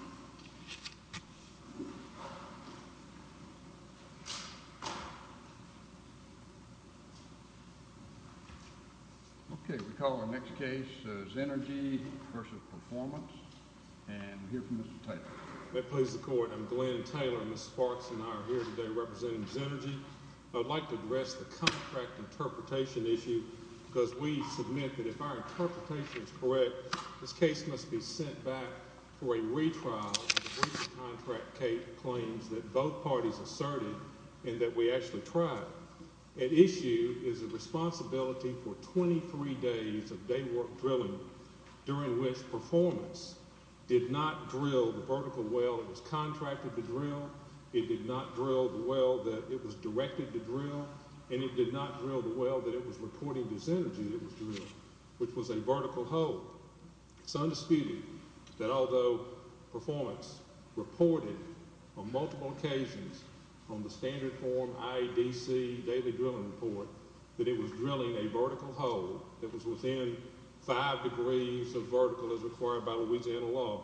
Okay, we call our next case Zenergy vs. Performance and we'll hear from Mr. Taylor. I'm Glenn Taylor and Ms. Sparks and I are here today representing Zenergy. I'd like to address the contract interpretation issue because we submit that if our interpretation is correct, this case must be sent back for a retrial if the breach of contract claims that both parties asserted and that we actually tried. At issue is the responsibility for 23 days of day work drilling during which Performance did not drill the vertical well that was contracted to drill, it did not drill the well that it was directed to drill, and it did not drill the well that it was reporting to Zenergy that was drilled, which was a vertical hole. It's undisputed that although Performance reported on multiple occasions on the standard form IEDC daily drilling report that it was drilling a vertical hole that was within 5 degrees of vertical as required by Louisiana law,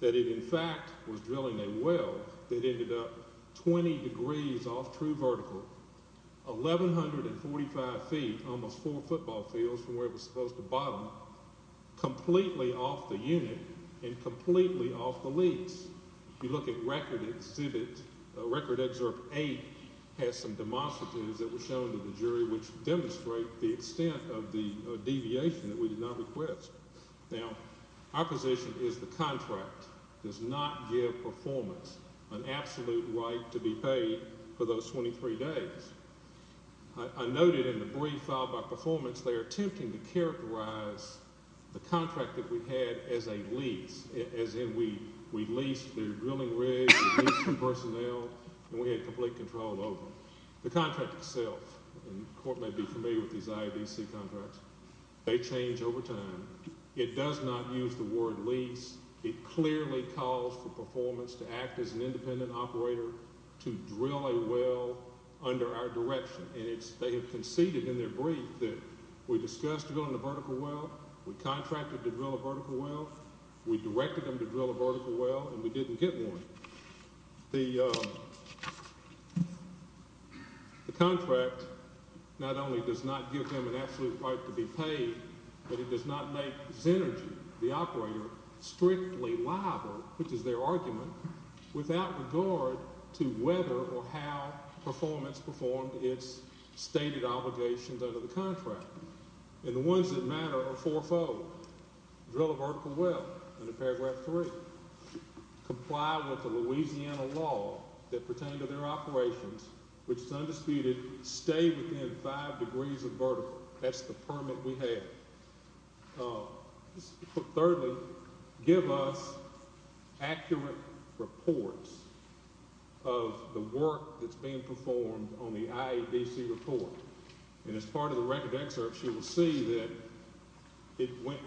that it in fact was drilling a well that ended up 20 degrees off true vertical, 1145 feet, almost full of football fields from where it was supposed to bottom, completely off the unit and completely off the leads. If you look at record exhibit, record excerpt 8 has some demonstrations that were shown to the jury which demonstrate the extent of the deviation that we did not request. Now, our position is the contract does not give Performance an absolute right to be paid for those 23 days. I noted in the brief filed by Performance they are attempting to characterize the contract that we had as a lease, as in we leased the drilling rig, we leased some personnel, and we had complete control over them. The contract itself, and the court may be familiar with these IEDC contracts, they change over time. It does not use the word lease. It clearly calls for Performance to act as an independent operator to drill a well under our direction, and they have conceded in their brief that we discussed drilling a vertical well, we contracted to drill a vertical well, we directed them to drill a vertical well, and we didn't get one. The contract not only does not give them an absolute right to be paid, but it does not make Xenergy, the operator, strictly liable, which is their argument, without regard to whether or how Performance performed its stated obligations under the contract. And the ones that matter are fourfold. Drill a vertical well, under paragraph three. Comply with the Louisiana law that pertained to their operations, which is undisputed. Stay within five degrees of vertical. That's the permit we have. Thirdly, give us accurate reports of the work that's being performed on the IEDC report. And as part of the record excerpt, you will see that they might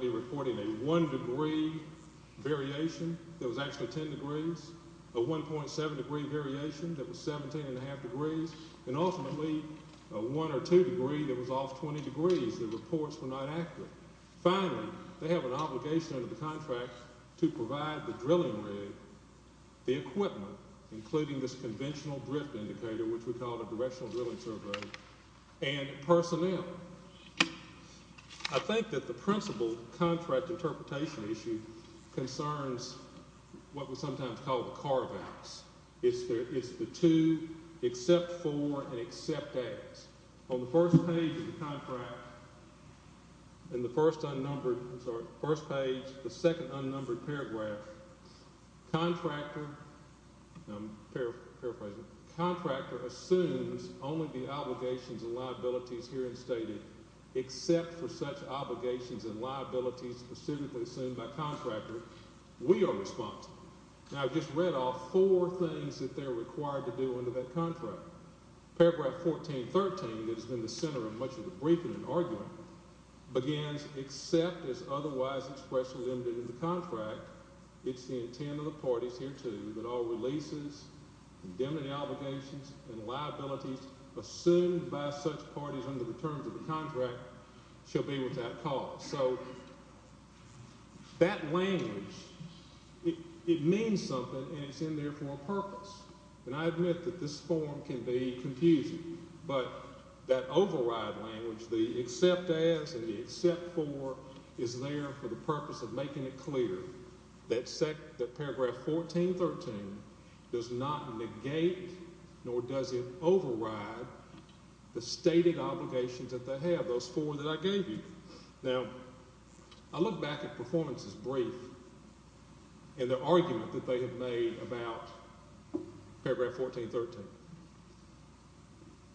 be reporting a one degree variation that was actually ten degrees, a 1.7 degree variation that was 17.5 degrees, and ultimately a one or two degree that was off 20 degrees. The reports were not accurate. Finally, they have an obligation under the contract to provide the drilling rig, the equipment, including this conventional drift indicator, which we call the Directional Drilling Survey, and personnel. I think that the principle contract interpretation issue concerns what we sometimes call the carve-outs. It's the two except for and except as. On the first page of the contract, in the first unnumbered—sorry, first page, the second unnumbered paragraph, contractor—I'm paraphrasing—contractor assumes only the obligations and liabilities herein stated, except for such obligations and liabilities specifically assumed by contractor. We are responsible. Now, I've just read off four things that they're required to do under that contract. Paragraph 14.13, that has been the center of much of the briefing and arguing, begins, except as otherwise expressly ended in the contract, it's the intent of the parties here, too, that all releases, indemnity obligations, and liabilities assumed by such parties under the terms of the contract shall be without cause. So that language, it means something, and it's in there for a purpose. And I admit that this form can be confusing, but that override language, the except as and the except for, is there for the purpose of making it clear that paragraph 14.13 does not negate nor does it override the stated obligations that they have, those four that I gave you. Now, I look back at performance's brief and the argument that they have made about paragraph 14.13.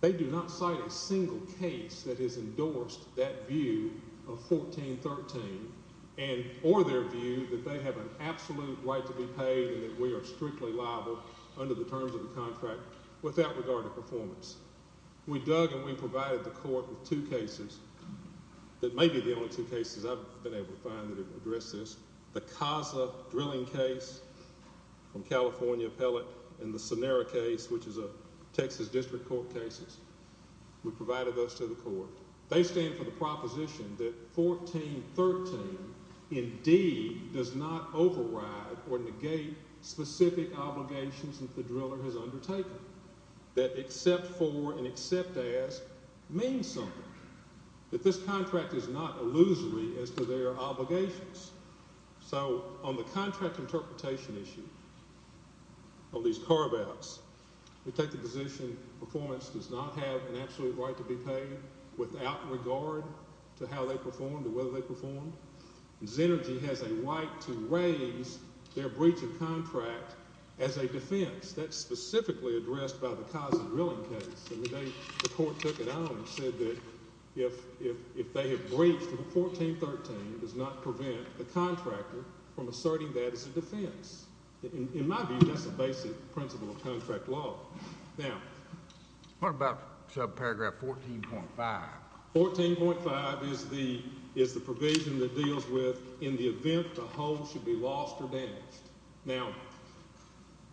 They do not cite a single case that has endorsed that view of 14.13, or their view that they have an absolute right to be paid and that we are strictly liable under the terms of the contract, without regard to performance. We dug and we provided the court with two cases that may be the only two cases I've been able to find that have addressed this. The Casa drilling case from California Appellate and the Sonera case, which is a Texas District Court case. We provided those to the court. They stand for the proposition that 14.13 indeed does not override or negate specific obligations that the driller has undertaken. That except for and except as means something. That this contract is not illusory as to their obligations. So, on the contract interpretation issue of these carve-outs, we take the position performance does not have an absolute right to be paid without regard to how they perform, to whether they perform. Xenergy has a right to raise their breach of contract as a defense. That's specifically addressed by the Casa drilling case. The court took it on and said that if they have breached 14.13, it does not prevent the contractor from asserting that as a defense. In my view, that's a basic principle of contract law. Now, what about subparagraph 14.5? 14.5 is the provision that deals with in the event the hold should be lost or damaged. Now,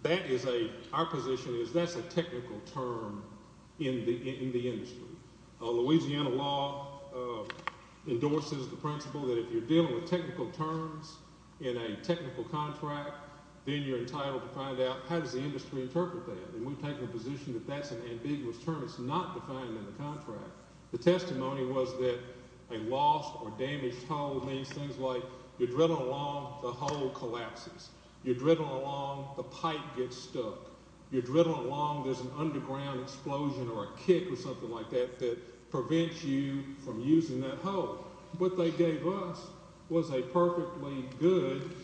that is a—our position is that's a technical term in the industry. Louisiana law endorses the principle that if you're dealing with technical terms in a technical contract, then you're entitled to find out how does the industry interpret that. And we take the position that that's an ambiguous term. It's not defined in the contract. The testimony was that a lost or damaged hold means things like you're drilling along, the hold collapses. You're drilling along, the pipe gets stuck. You're drilling along, there's an underground explosion or a kick or something like that that prevents you from using that hold. What they gave us was a perfectly good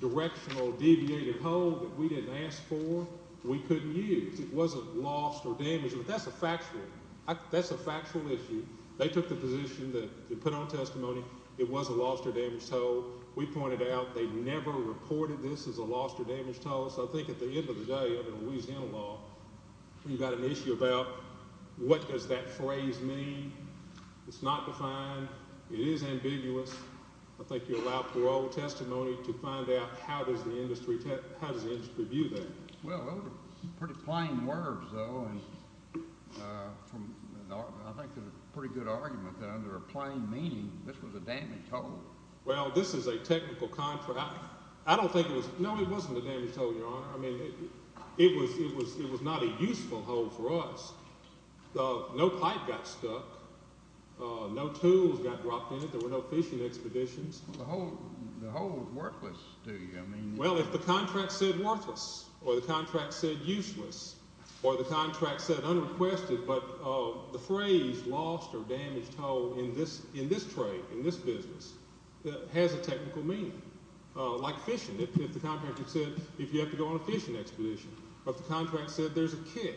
directional deviated hold that we didn't ask for. It wasn't lost or damaged. But that's a factual—that's a factual issue. They took the position that they put on testimony it was a lost or damaged hold. We pointed out they never reported this as a lost or damaged hold. So I think at the end of the day, under Louisiana law, you've got an issue about what does that phrase mean. It's not defined. It is ambiguous. I think you're allowed parole testimony to find out how does the industry view that. Well, those are pretty plain words, though, and I think they're a pretty good argument. Under a plain meaning, this was a damaged hold. Well, this is a technical contract. I don't think it was—no, it wasn't a damaged hold, Your Honor. I mean, it was not a useful hold for us. No pipe got stuck. No tools got dropped in it. There were no fishing expeditions. The hold was worthless, do you mean? Well, if the contract said worthless or the contract said useless or the contract said unrequested but the phrase lost or damaged hold in this trade, in this business, has a technical meaning. Like fishing, if the contract said if you have to go on a fishing expedition, but the contract said there's a kick.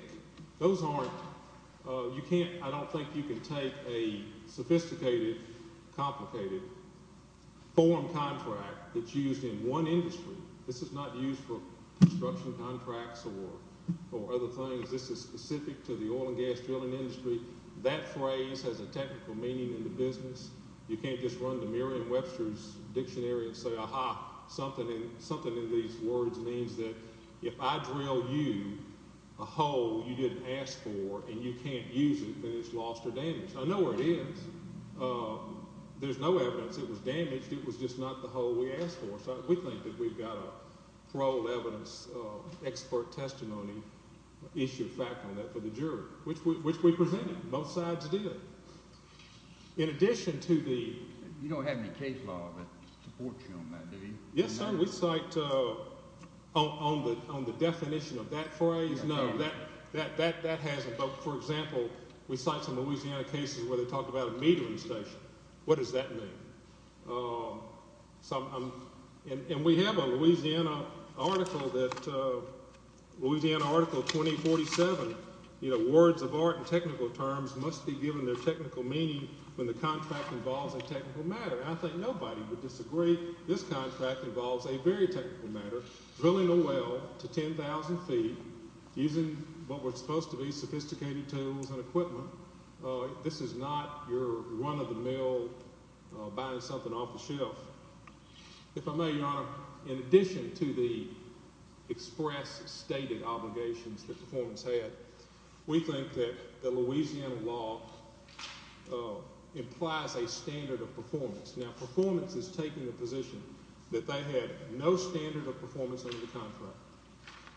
Those aren't—you can't—I don't think you can take a sophisticated, complicated form contract that's used in one industry. This is not used for construction contracts or other things. This is specific to the oil and gas drilling industry. That phrase has a technical meaning in the business. You can't just run the Merriam-Webster's Dictionary and say, aha, something in these words means that if I drill you a hole you didn't ask for I know where it is. There's no evidence it was damaged. It was just not the hole we asked for. So we think that we've got a paroled evidence expert testimony issue fact on that for the jury, which we presented. Both sides did. In addition to the— You don't have any case law that supports you on that, do you? Yes, sir. We cite on the definition of that phrase. No, that hasn't. But, for example, we cite some Louisiana cases where they talk about a metering station. What does that mean? And we have a Louisiana article that—Louisiana Article 2047, words of art in technical terms must be given their technical meaning when the contract involves a technical matter. And I think nobody would disagree this contract involves a very technical matter, drilling a well to 10,000 feet using what were supposed to be sophisticated tools and equipment. This is not your run-of-the-mill buying something off the shelf. If I may, Your Honor, in addition to the express stated obligations that performance had, we think that the Louisiana law implies a standard of performance. Now, performance is taking the position that they had no standard of performance under the contract.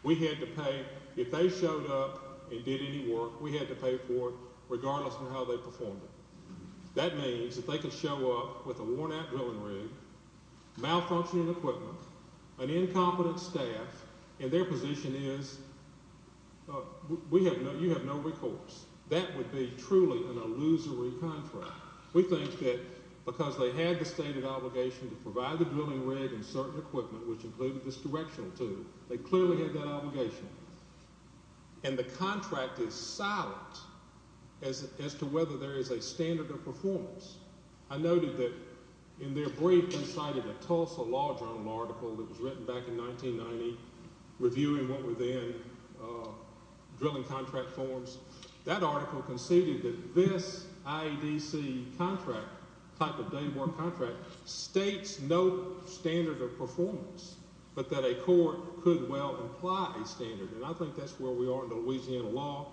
We had to pay—if they showed up and did any work, we had to pay for it, regardless of how they performed it. That means if they could show up with a worn-out drilling rig, malfunctioning equipment, an incompetent staff, and their position is, you have no recourse, that would be truly an illusory contract. We think that because they had the stated obligation to provide the drilling rig and certain equipment, which included this directional tool, they clearly had that obligation. And the contract is silent as to whether there is a standard of performance. I noted that in their brief they cited a Tulsa Law Journal article that was written back in 1990 reviewing what were then drilling contract forms. That article conceded that this IEDC contract, type of daybore contract, states no standard of performance, but that a court could well imply a standard. And I think that's where we are in Louisiana law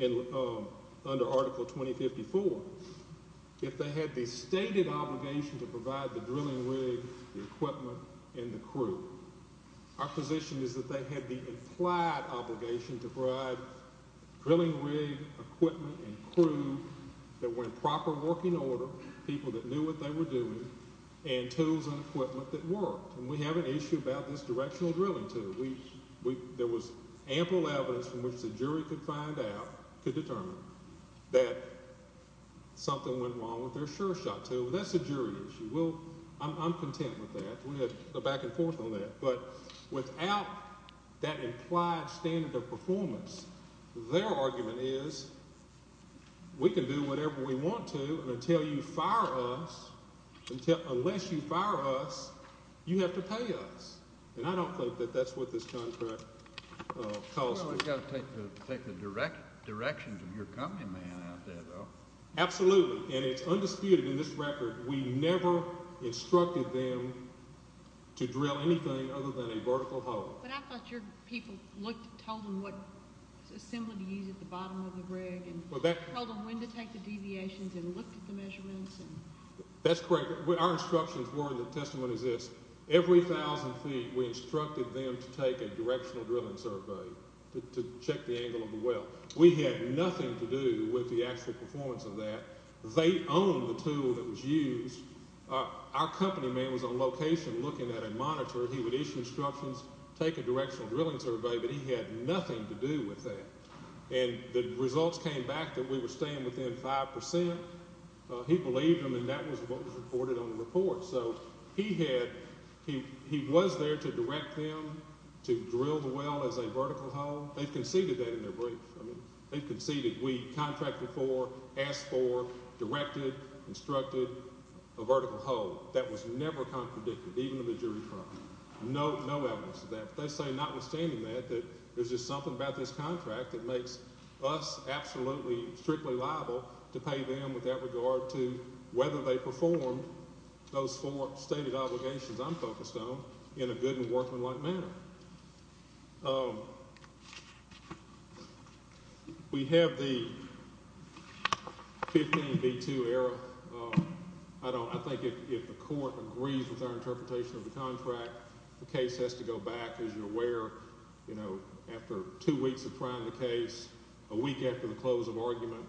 under Article 2054. If they had the stated obligation to provide the drilling rig, the equipment, and the crew, our position is that they had the implied obligation to provide drilling rig, equipment, and crew that were in proper working order, people that knew what they were doing, and tools and equipment that worked. And we have an issue about this directional drilling tool. There was ample evidence from which the jury could find out, could determine, that something went wrong with their sure shot tool, and that's a jury issue. I'm content with that. We had a back and forth on that. But without that implied standard of performance, their argument is we can do whatever we want to until you fire us. Unless you fire us, you have to pay us. And I don't think that that's what this contract calls for. Well, we've got to take the directions of your company man out there, though. Absolutely. And it's undisputed in this record, we never instructed them to drill anything other than a vertical hole. But I thought your people told them what assembly to use at the bottom of the rig, and told them when to take the deviations, and looked at the measurements. That's correct. Our instructions were in the testimony is this. Every thousand feet, we instructed them to take a directional drilling survey to check the angle of the well. We had nothing to do with the actual performance of that. They owned the tool that was used. Our company man was on location looking at a monitor. He would issue instructions, take a directional drilling survey, but he had nothing to do with that. And the results came back that we were staying within 5%. He believed them, and that was what was reported on the report. So he was there to direct them to drill the well as a vertical hole. They conceded that in their brief. They conceded we contracted for, asked for, directed, instructed a vertical hole. That was never contradicted, even to the jury trial. No evidence of that. They say notwithstanding that, that there's just something about this contract that makes us absolutely, strictly liable to pay them with that regard to whether they performed those four stated obligations I'm focused on in a good and workmanlike manner. We have the 15B2 error. I think if the court agrees with our interpretation of the contract, the case has to go back, as you're aware. After two weeks of trying the case, a week after the close of argument,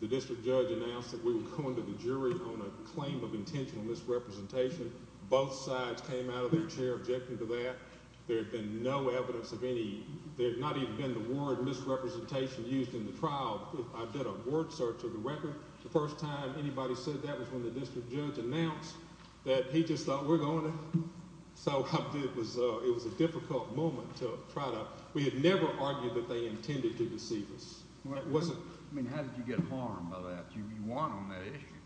the district judge announced that we were going to the jury on a claim of intentional misrepresentation. Both sides came out of their chair objecting to that. There had been no evidence of any. There had not even been the word misrepresentation used in the trial. I did a word search of the record. The first time anybody said that was when the district judge announced that he just thought we're going to. So it was a difficult moment to try to. We had never argued that they intended to deceive us. I mean, how did you get harmed by that? You weren't on that issue.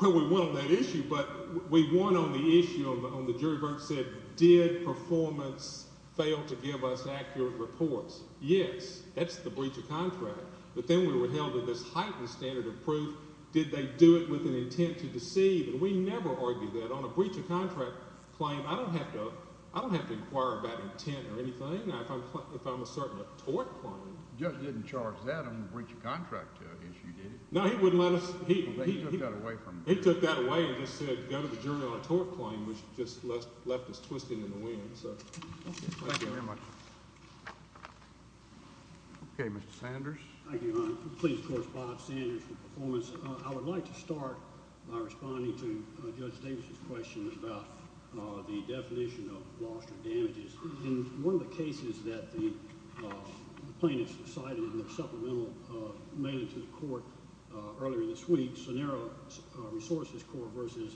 Well, we weren't on that issue, but we weren't on the issue on the jury version. Did performance fail to give us accurate reports? Yes, that's the breach of contract. But then we were held to this heightened standard of proof. Did they do it with an intent to deceive? And we never argued that. On a breach of contract claim, I don't have to inquire about intent or anything if I'm asserting a tort claim. The judge didn't charge that on the breach of contract issue, did he? No, he wouldn't let us. He took that away and just said go to the jury on a tort claim, which just left us twisting in the wind. Thank you very much. Okay, Mr. Sanders. Thank you, Your Honor. Please correspond, Sanders, with performance. I would like to start by responding to Judge Davis's question about the definition of loss or damages. In one of the cases that the plaintiffs cited in their supplemental made to the court earlier this week, Scenario Resources Corp. v.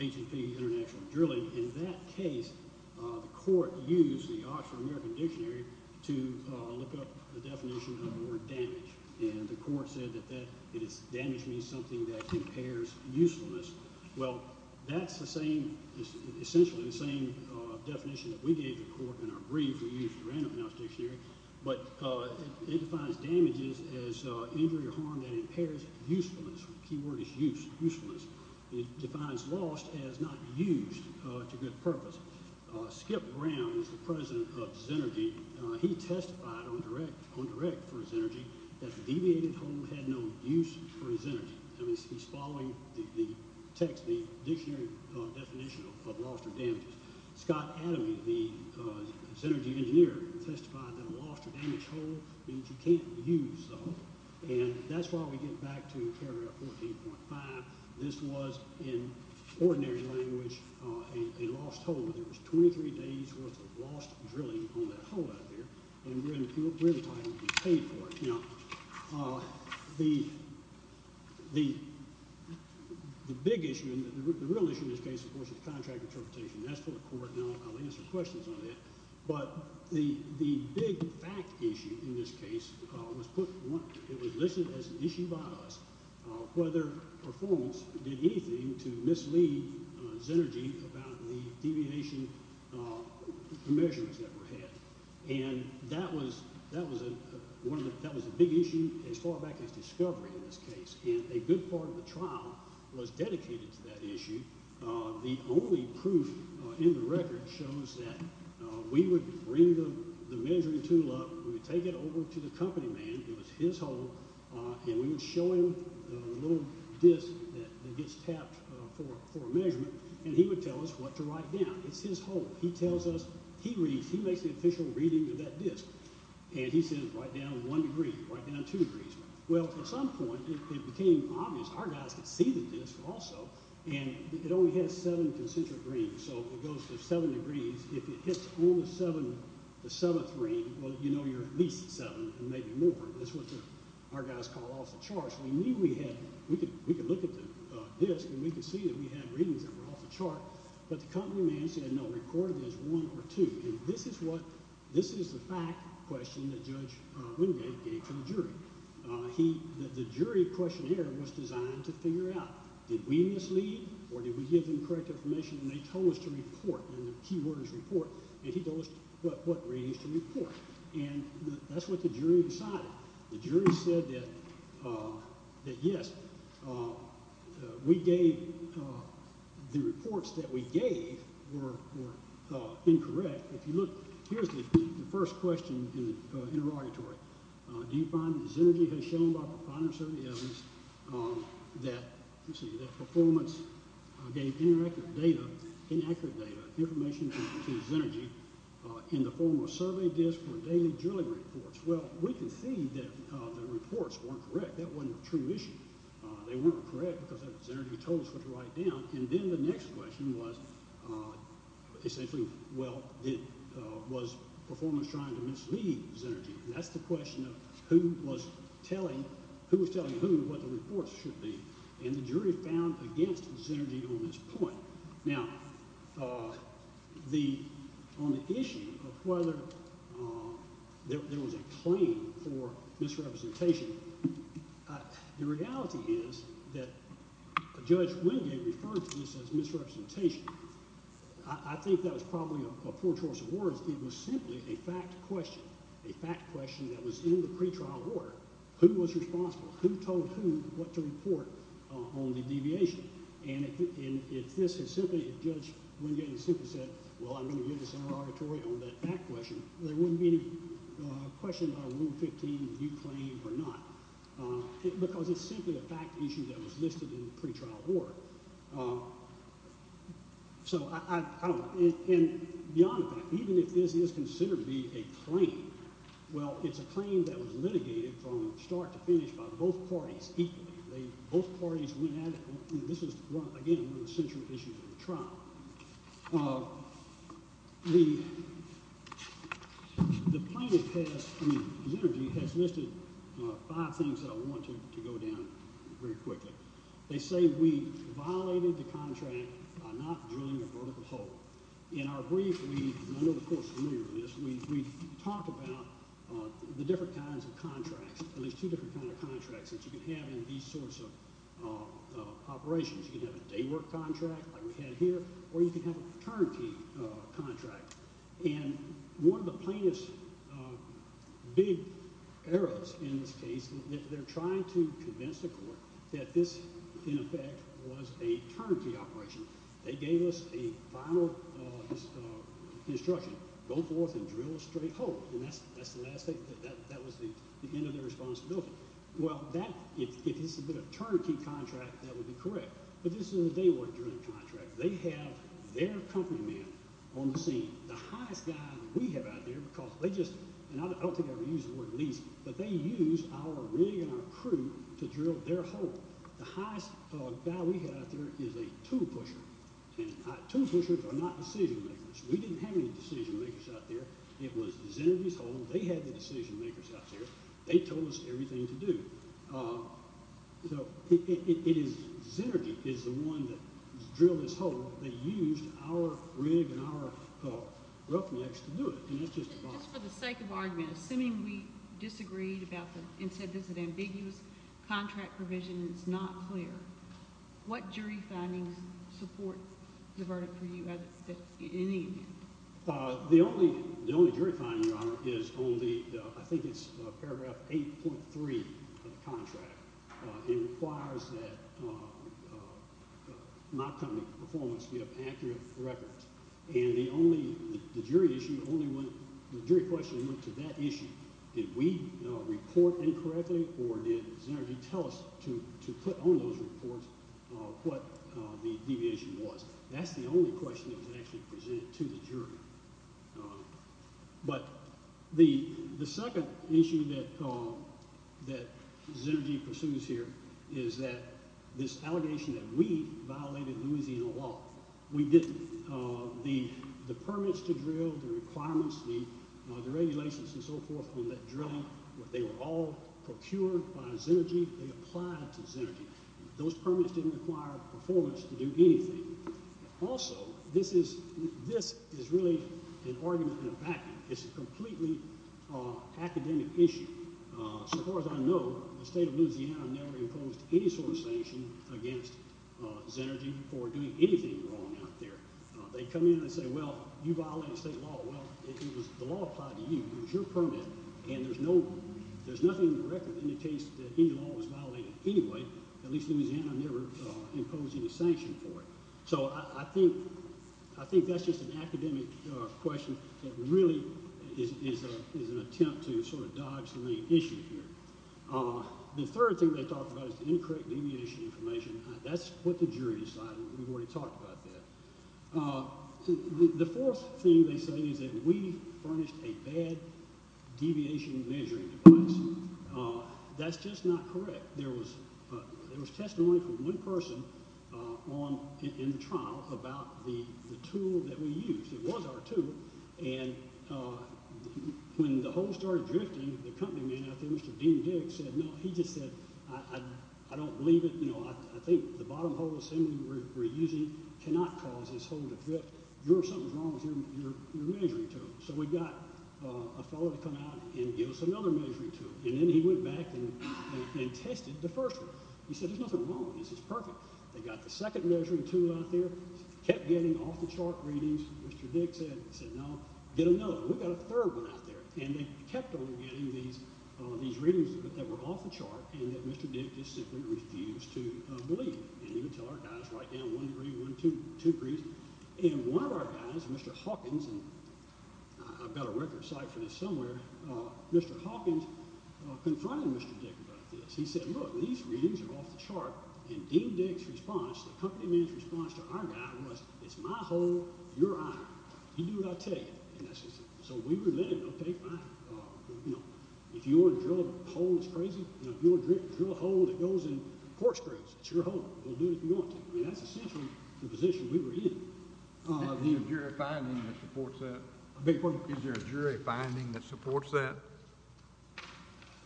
H&P International Drilling, in that case the court used the Oxford American Dictionary to look up the definition of the word damage, and the court said that damage means something that impairs usefulness. Well, that's essentially the same definition that we gave the court in our brief. We used the Random House Dictionary. But it defines damages as injury or harm that impairs usefulness. The key word is use, usefulness. It defines lost as not used to good purpose. Skip Brown is the president of Xenergy. He testified on direct for Xenergy that deviated home had no use for Xenergy. He's following the text, the dictionary definition of loss or damages. Scott Adame, the Xenergy engineer, testified that a lost or damaged hole means you can't use the hole. And that's why we get back to paragraph 14.5. This was, in ordinary language, a lost hole. There was 23 days' worth of lost drilling on that hole out there, and we're entitled to be paid for it. Now, the big issue, the real issue in this case, of course, is contract interpretation. That's for the court, and I'll answer questions on that. But the big fact issue in this case was put, it was listed as an issue by us, whether performance did anything to mislead Xenergy about the deviation measurements that were had. And that was a big issue as far back as discovery in this case. And a good part of the trial was dedicated to that issue. The only proof in the record shows that we would bring the measuring tool up. We would take it over to the company man. It was his hole, and we would show him the little disc that gets tapped for a measurement, and he would tell us what to write down. It's his hole. He tells us, he reads, he makes the official reading of that disc, and he says write down one degree, write down two degrees. Well, at some point, it became obvious. Our guys could see the disc also, and it only had seven concentric rings, so it goes to seven degrees. If it hits only the seventh ring, well, you know you're at least at seven and maybe more. That's what our guys call off the charts. We knew we had, we could look at the disc, and we could see that we had readings that were off the chart, but the company man said no, record it as one or two. And this is the fact question that Judge Wingate gave to the jury. The jury questionnaire was designed to figure out did we mislead or did we give them correct information, and they told us to report, and the key word is report, and he told us what readings to report. And that's what the jury decided. The jury said that yes, we gave, the reports that we gave were incorrect. If you look, here's the first question in the interrogatory. Do you find that Xenergy has shown by proprietary survey evidence that, let's see, that performance gave inaccurate data, information to Xenergy in the form of survey disc or daily drilling reports? Well, we can see that the reports weren't correct. That wasn't a true issue. They weren't correct because Xenergy told us what to write down, and then the next question was essentially, well, was performance trying to mislead Xenergy? That's the question of who was telling who what the reports should be, and the jury found against Xenergy on this point. Now, on the issue of whether there was a claim for misrepresentation, the reality is that Judge Wingate referred to this as misrepresentation. I think that was probably a poor choice of words. It was simply a fact question, a fact question that was in the pretrial order. Who was responsible? Who told who what to report on the deviation? And if this had simply, if Judge Wingate had simply said, well, I'm going to give this an auditory on that fact question, there wouldn't be any question about a Rule 15 view claim or not because it's simply a fact issue that was listed in the pretrial order. So I don't know. And beyond that, even if this is considered to be a claim, well, it's a claim that was litigated from start to finish by both parties equally. Both parties went at it. This is, again, one of the central issues of the trial. The plaintiff has, I mean, Xenergy has listed five things that I want to go down very quickly. They say we violated the contract by not drilling a vertical hole. In our brief, we, and I know the court is familiar with this, we talked about the different kinds of contracts, at least two different kinds of contracts that you can have in these sorts of operations. You can have a day work contract like we have here, or you can have a turnkey contract. And one of the plaintiff's big errors in this case, they're trying to convince the court that this, in effect, was a turnkey operation. They gave us a final instruction, go forth and drill a straight hole. And that's the last thing, that was the end of their responsibility. Well, that, if this had been a turnkey contract, that would be correct. But this is a day work drilling contract. They have their company man on the scene, the highest guy that we have out there, because they just, and I don't think I ever used the word lease, but they used our rig and our crew to drill their hole. The highest guy we have out there is a tool pusher. And tool pushers are not decision makers. We didn't have any decision makers out there. It was Xenergy's hole. They had the decision makers out there. They told us everything to do. So it is, Xenergy is the one that drilled this hole. They used our rig and our roughnecks to do it. And that's just the bottom line. Just for the sake of argument, assuming we disagreed about this and said this is an ambiguous contract provision and it's not clear, what jury findings support the verdict for you in any event? The only jury finding, Your Honor, is on the, I think it's paragraph 8.3 of the contract. It requires that my company performance be of accurate record. And the only, the jury issue only went, the jury question went to that issue. Did we report incorrectly or did Xenergy tell us to put on those reports what the deviation was? That's the only question that was actually presented to the jury. But the second issue that Xenergy pursues here is that this allegation that we violated Louisiana law. We didn't. The permits to drill, the requirements, the regulations and so forth for that drilling, they were all procured by Xenergy. They applied to Xenergy. Those permits didn't require performance to do anything. Also, this is really an argument in a vacuum. It's a completely academic issue. So far as I know, the state of Louisiana never imposed any sort of sanction against Xenergy for doing anything wrong out there. They come in and say, well, you violated state law. Well, the law applied to you. It was your permit. And there's nothing in the record that indicates that any law was violated anyway. At least Louisiana never imposed any sanction for it. So I think that's just an academic question that really is an attempt to sort of dodge the main issue here. The third thing they talked about is the incorrect deviation information. That's what the jury decided. We've already talked about that. The fourth thing they said is that we furnished a bad deviation measuring device. That's just not correct. There was testimony from one person in the trial about the tool that we used. It was our tool. And when the hole started drifting, the company man out there, Mr. Dean Dick, said, no, he just said, I don't believe it. I think the bottom hole assembly we're using cannot cause this hole to drift. You're something's wrong with your measuring tool. So we got a fellow to come out and give us another measuring tool. And then he went back and tested the first one. He said, there's nothing wrong with this. It's perfect. They got the second measuring tool out there, kept getting off-the-chart readings. Mr. Dick said, no, get another one. We got a third one out there. And they kept on getting these readings that were off-the-chart and that Mr. Dick just simply refused to believe. And he would tell our guys, write down one degree, two degrees. And one of our guys, Mr. Hawkins, and I've got a record site for this somewhere, Mr. Hawkins confronted Mr. Dick about this. He said, look, these readings are off-the-chart. And Dean Dick's response, the company man's response to our guy was, it's my hole, you're iron. You do what I tell you. And that's what he said. So we were then, okay, fine. If you want to drill a hole that's crazy, if you want to drill a hole that goes in corkscrews, it's your hole. We'll do it if you want to. I mean, that's essentially the position we were in. Do you have a jury finding that supports that? Is there a jury finding that supports that?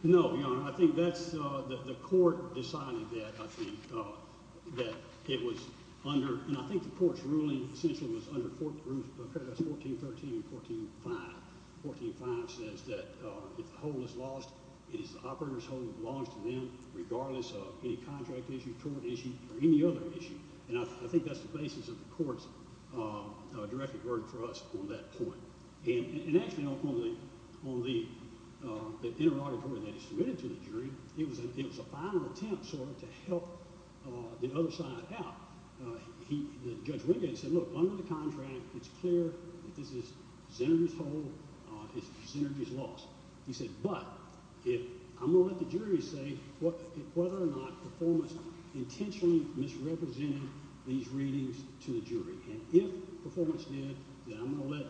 No, Your Honor. I think that's the court deciding that, I think, that it was under. And I think the court's ruling essentially was under 1413 and 1415. 1415 says that if a hole is lost, it is the operator's hole that belongs to them, regardless of any contract issue, tort issue, or any other issue. And I think that's the basis of the court's directed verdict for us on that point. And actually on the interrogatory that is submitted to the jury, it was a final attempt sort of to help the other side out. Judge Wingate said, look, under the contract, it's clear that this is Xenergy's hole. It's Xenergy's loss. He said, but I'm going to let the jury say whether or not performance intentionally misrepresented these readings to the jury. And if performance did, then I'm going to let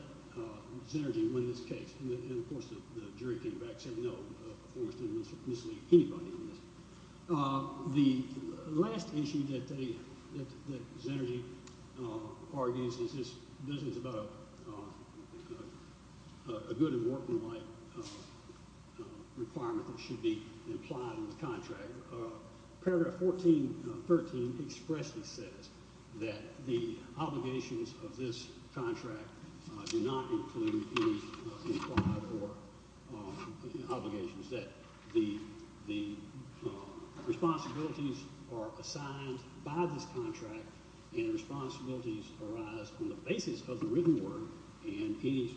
Xenergy win this case. And, of course, the jury came back and said, no, performance didn't mislead anybody in this. The last issue that Xenergy argues is this is about a good and working life requirement that should be implied in the contract. Paragraph 1413 expressly says that the obligations of this contract do not include any implied or obligations, that the responsibilities are assigned by this contract, and responsibilities arise on the basis of the written word, and any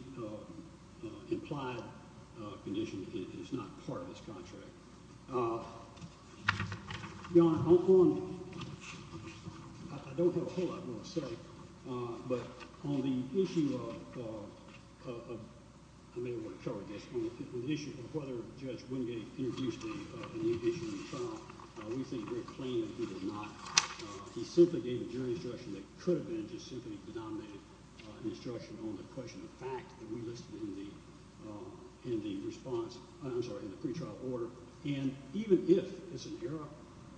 implied condition is not part of this contract. Your Honor, on – I don't have a whole lot I want to say, but on the issue of – I may want to cover this. On the issue of whether Judge Wingate introduced a new issue in the trial, we think very plainly he did not. He simply gave a jury instruction that could have been just simply denominated an instruction on the question of fact that we listed in the response – and even if, as an error,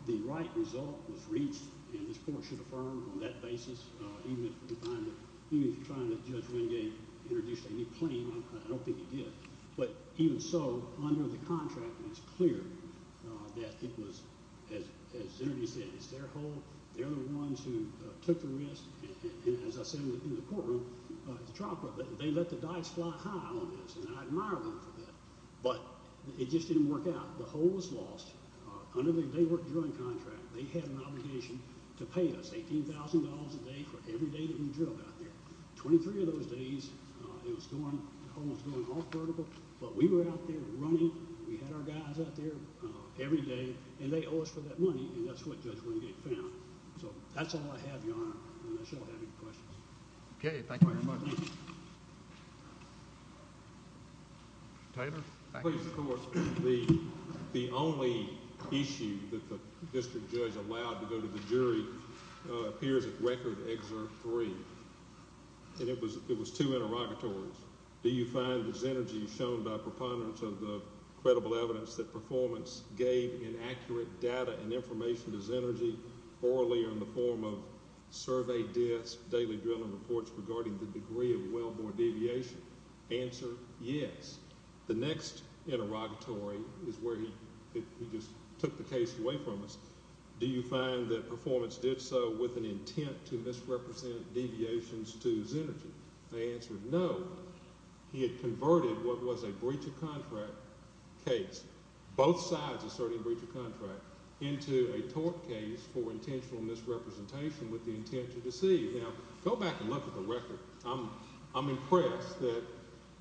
the right result was reached and this court should affirm on that basis, even if you find that – even if you find that Judge Wingate introduced a new claim, I don't think he did. But even so, under the contract, it's clear that it was, as Xenergy said, it's their whole – they're the ones who took the risk. And as I said in the courtroom, the trial court, they let the dice fly high on this, and I admire them for that. But it just didn't work out. The whole was lost. Under the day work drilling contract, they had an obligation to pay us $18,000 a day for every day that we drilled out there. Twenty-three of those days, it was going – the whole was going off vertical. But we were out there running. We had our guys out there every day, and they owe us for that money, and that's what Judge Wingate found. So that's all I have, Your Honor, unless you all have any questions. Okay, thank you very much. Taylor? Please, of course. The only issue that the district judge allowed to go to the jury appears at Record Excerpt 3, and it was two interrogatories. Do you find that Xenergy shown by preponderance of the credible evidence that performance gave in accurate data and information to Xenergy orally in the form of surveyed deaths, daily drilling reports regarding the degree of well-born deviation? Answer, yes. The next interrogatory is where he just took the case away from us. Do you find that performance did so with an intent to misrepresent deviations to Xenergy? The answer is no. He had converted what was a breach of contract case. Both sides asserted a breach of contract into a tort case for intentional misrepresentation with the intent to deceive. Now, go back and look at the record. I'm impressed that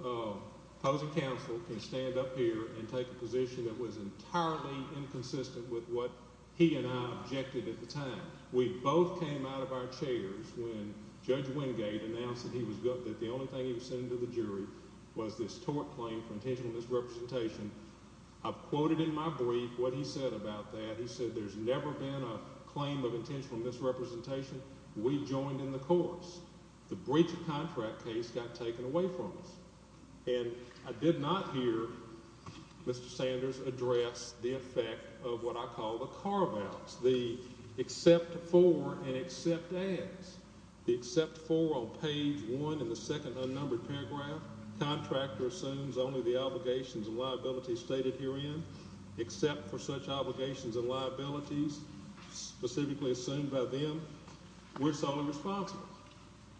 opposing counsel can stand up here and take a position that was entirely inconsistent with what he and I objected at the time. We both came out of our chairs when Judge Wingate announced that the only thing he was sending to the jury was this tort claim for intentional misrepresentation. I've quoted in my brief what he said about that. He said there's never been a claim of intentional misrepresentation. We joined in the course. The breach of contract case got taken away from us. And I did not hear Mr. Sanders address the effect of what I call the carve-outs, the except for and except as. The except for on page 1 in the second unnumbered paragraph. Contractor assumes only the obligations and liabilities stated herein. Except for such obligations and liabilities specifically assumed by them, we're solely responsible.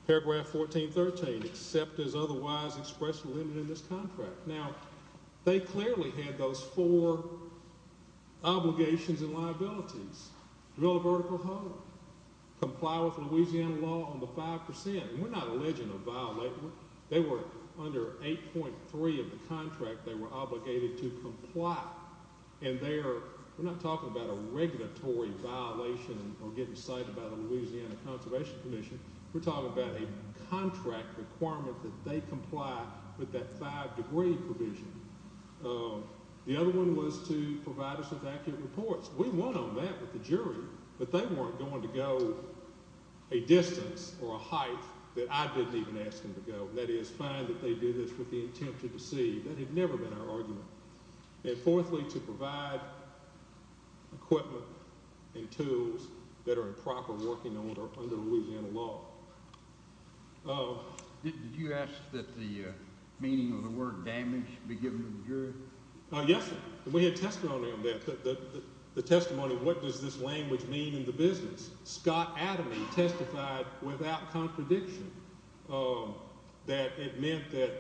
Paragraph 1413, except as otherwise expressed in this contract. Now, they clearly had those four obligations and liabilities. Build a vertical home. Comply with Louisiana law on the 5%. We're not alleging a violation. They were under 8.3 of the contract. They were obligated to comply. We're not talking about a regulatory violation or getting cited by the Louisiana Conservation Commission. We're talking about a contract requirement that they comply with that 5 degree provision. The other one was to provide us with accurate reports. We won on that with the jury. But they weren't going to go a distance or a height that I didn't even ask them to go. That is fine that they do this with the intent to deceive. That had never been our argument. And, fourthly, to provide equipment and tools that are improper working under Louisiana law. Did you ask that the meaning of the word damage be given to the jury? Yes, sir. We had testimony on that, the testimony of what does this language mean in the business. Scott Adamey testified without contradiction that it meant that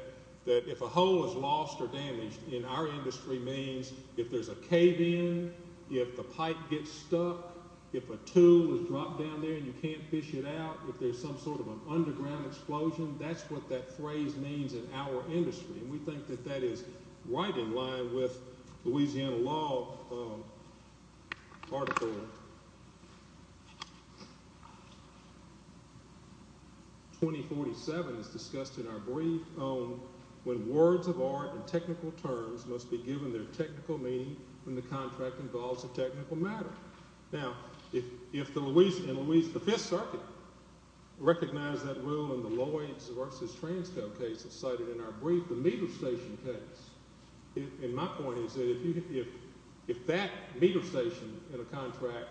if a hole is lost or damaged in our industry means if there's a cave in, if the pipe gets stuck, if a tool is dropped down there and you can't fish it out, if there's some sort of an underground explosion, that's what that phrase means in our industry. And we think that that is right in line with Louisiana law. Article 2047 is discussed in our brief on when words of art and technical terms must be given their technical meaning when the contract involves a technical matter. Now, if the Louis and Louise V Circuit recognize that rule in the Lloyds v. Transco case cited in our brief, the meter station case, and my point is that if that meter station in a contract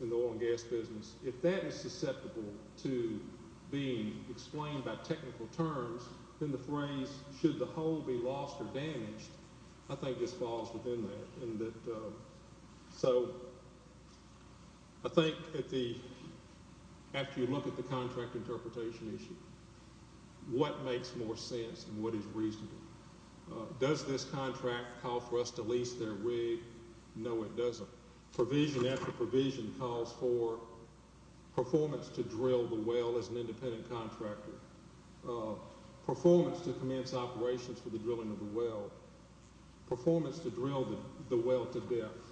in the oil and gas business, if that is susceptible to being explained by technical terms, then the phrase, should the hole be lost or damaged, I think just falls within that. I think after you look at the contract interpretation issue, what makes more sense and what is reasonable? Does this contract call for us to lease their rig? No, it doesn't. Provision after provision calls for performance to drill the well as an independent contractor, performance to commence operations for the drilling of the well, performance to drill the well to depth.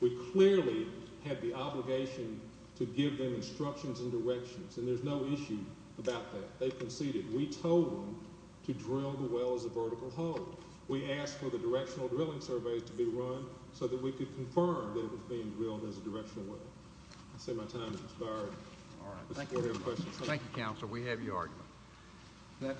We clearly have the obligation to give them instructions and directions, and there's no issue about that. They've conceded. We told them to drill the well as a vertical hole. We asked for the directional drilling survey to be run so that we could confirm that it was being drilled as a directional well. I'd say my time has expired. Thank you, Counselor. We have your argument.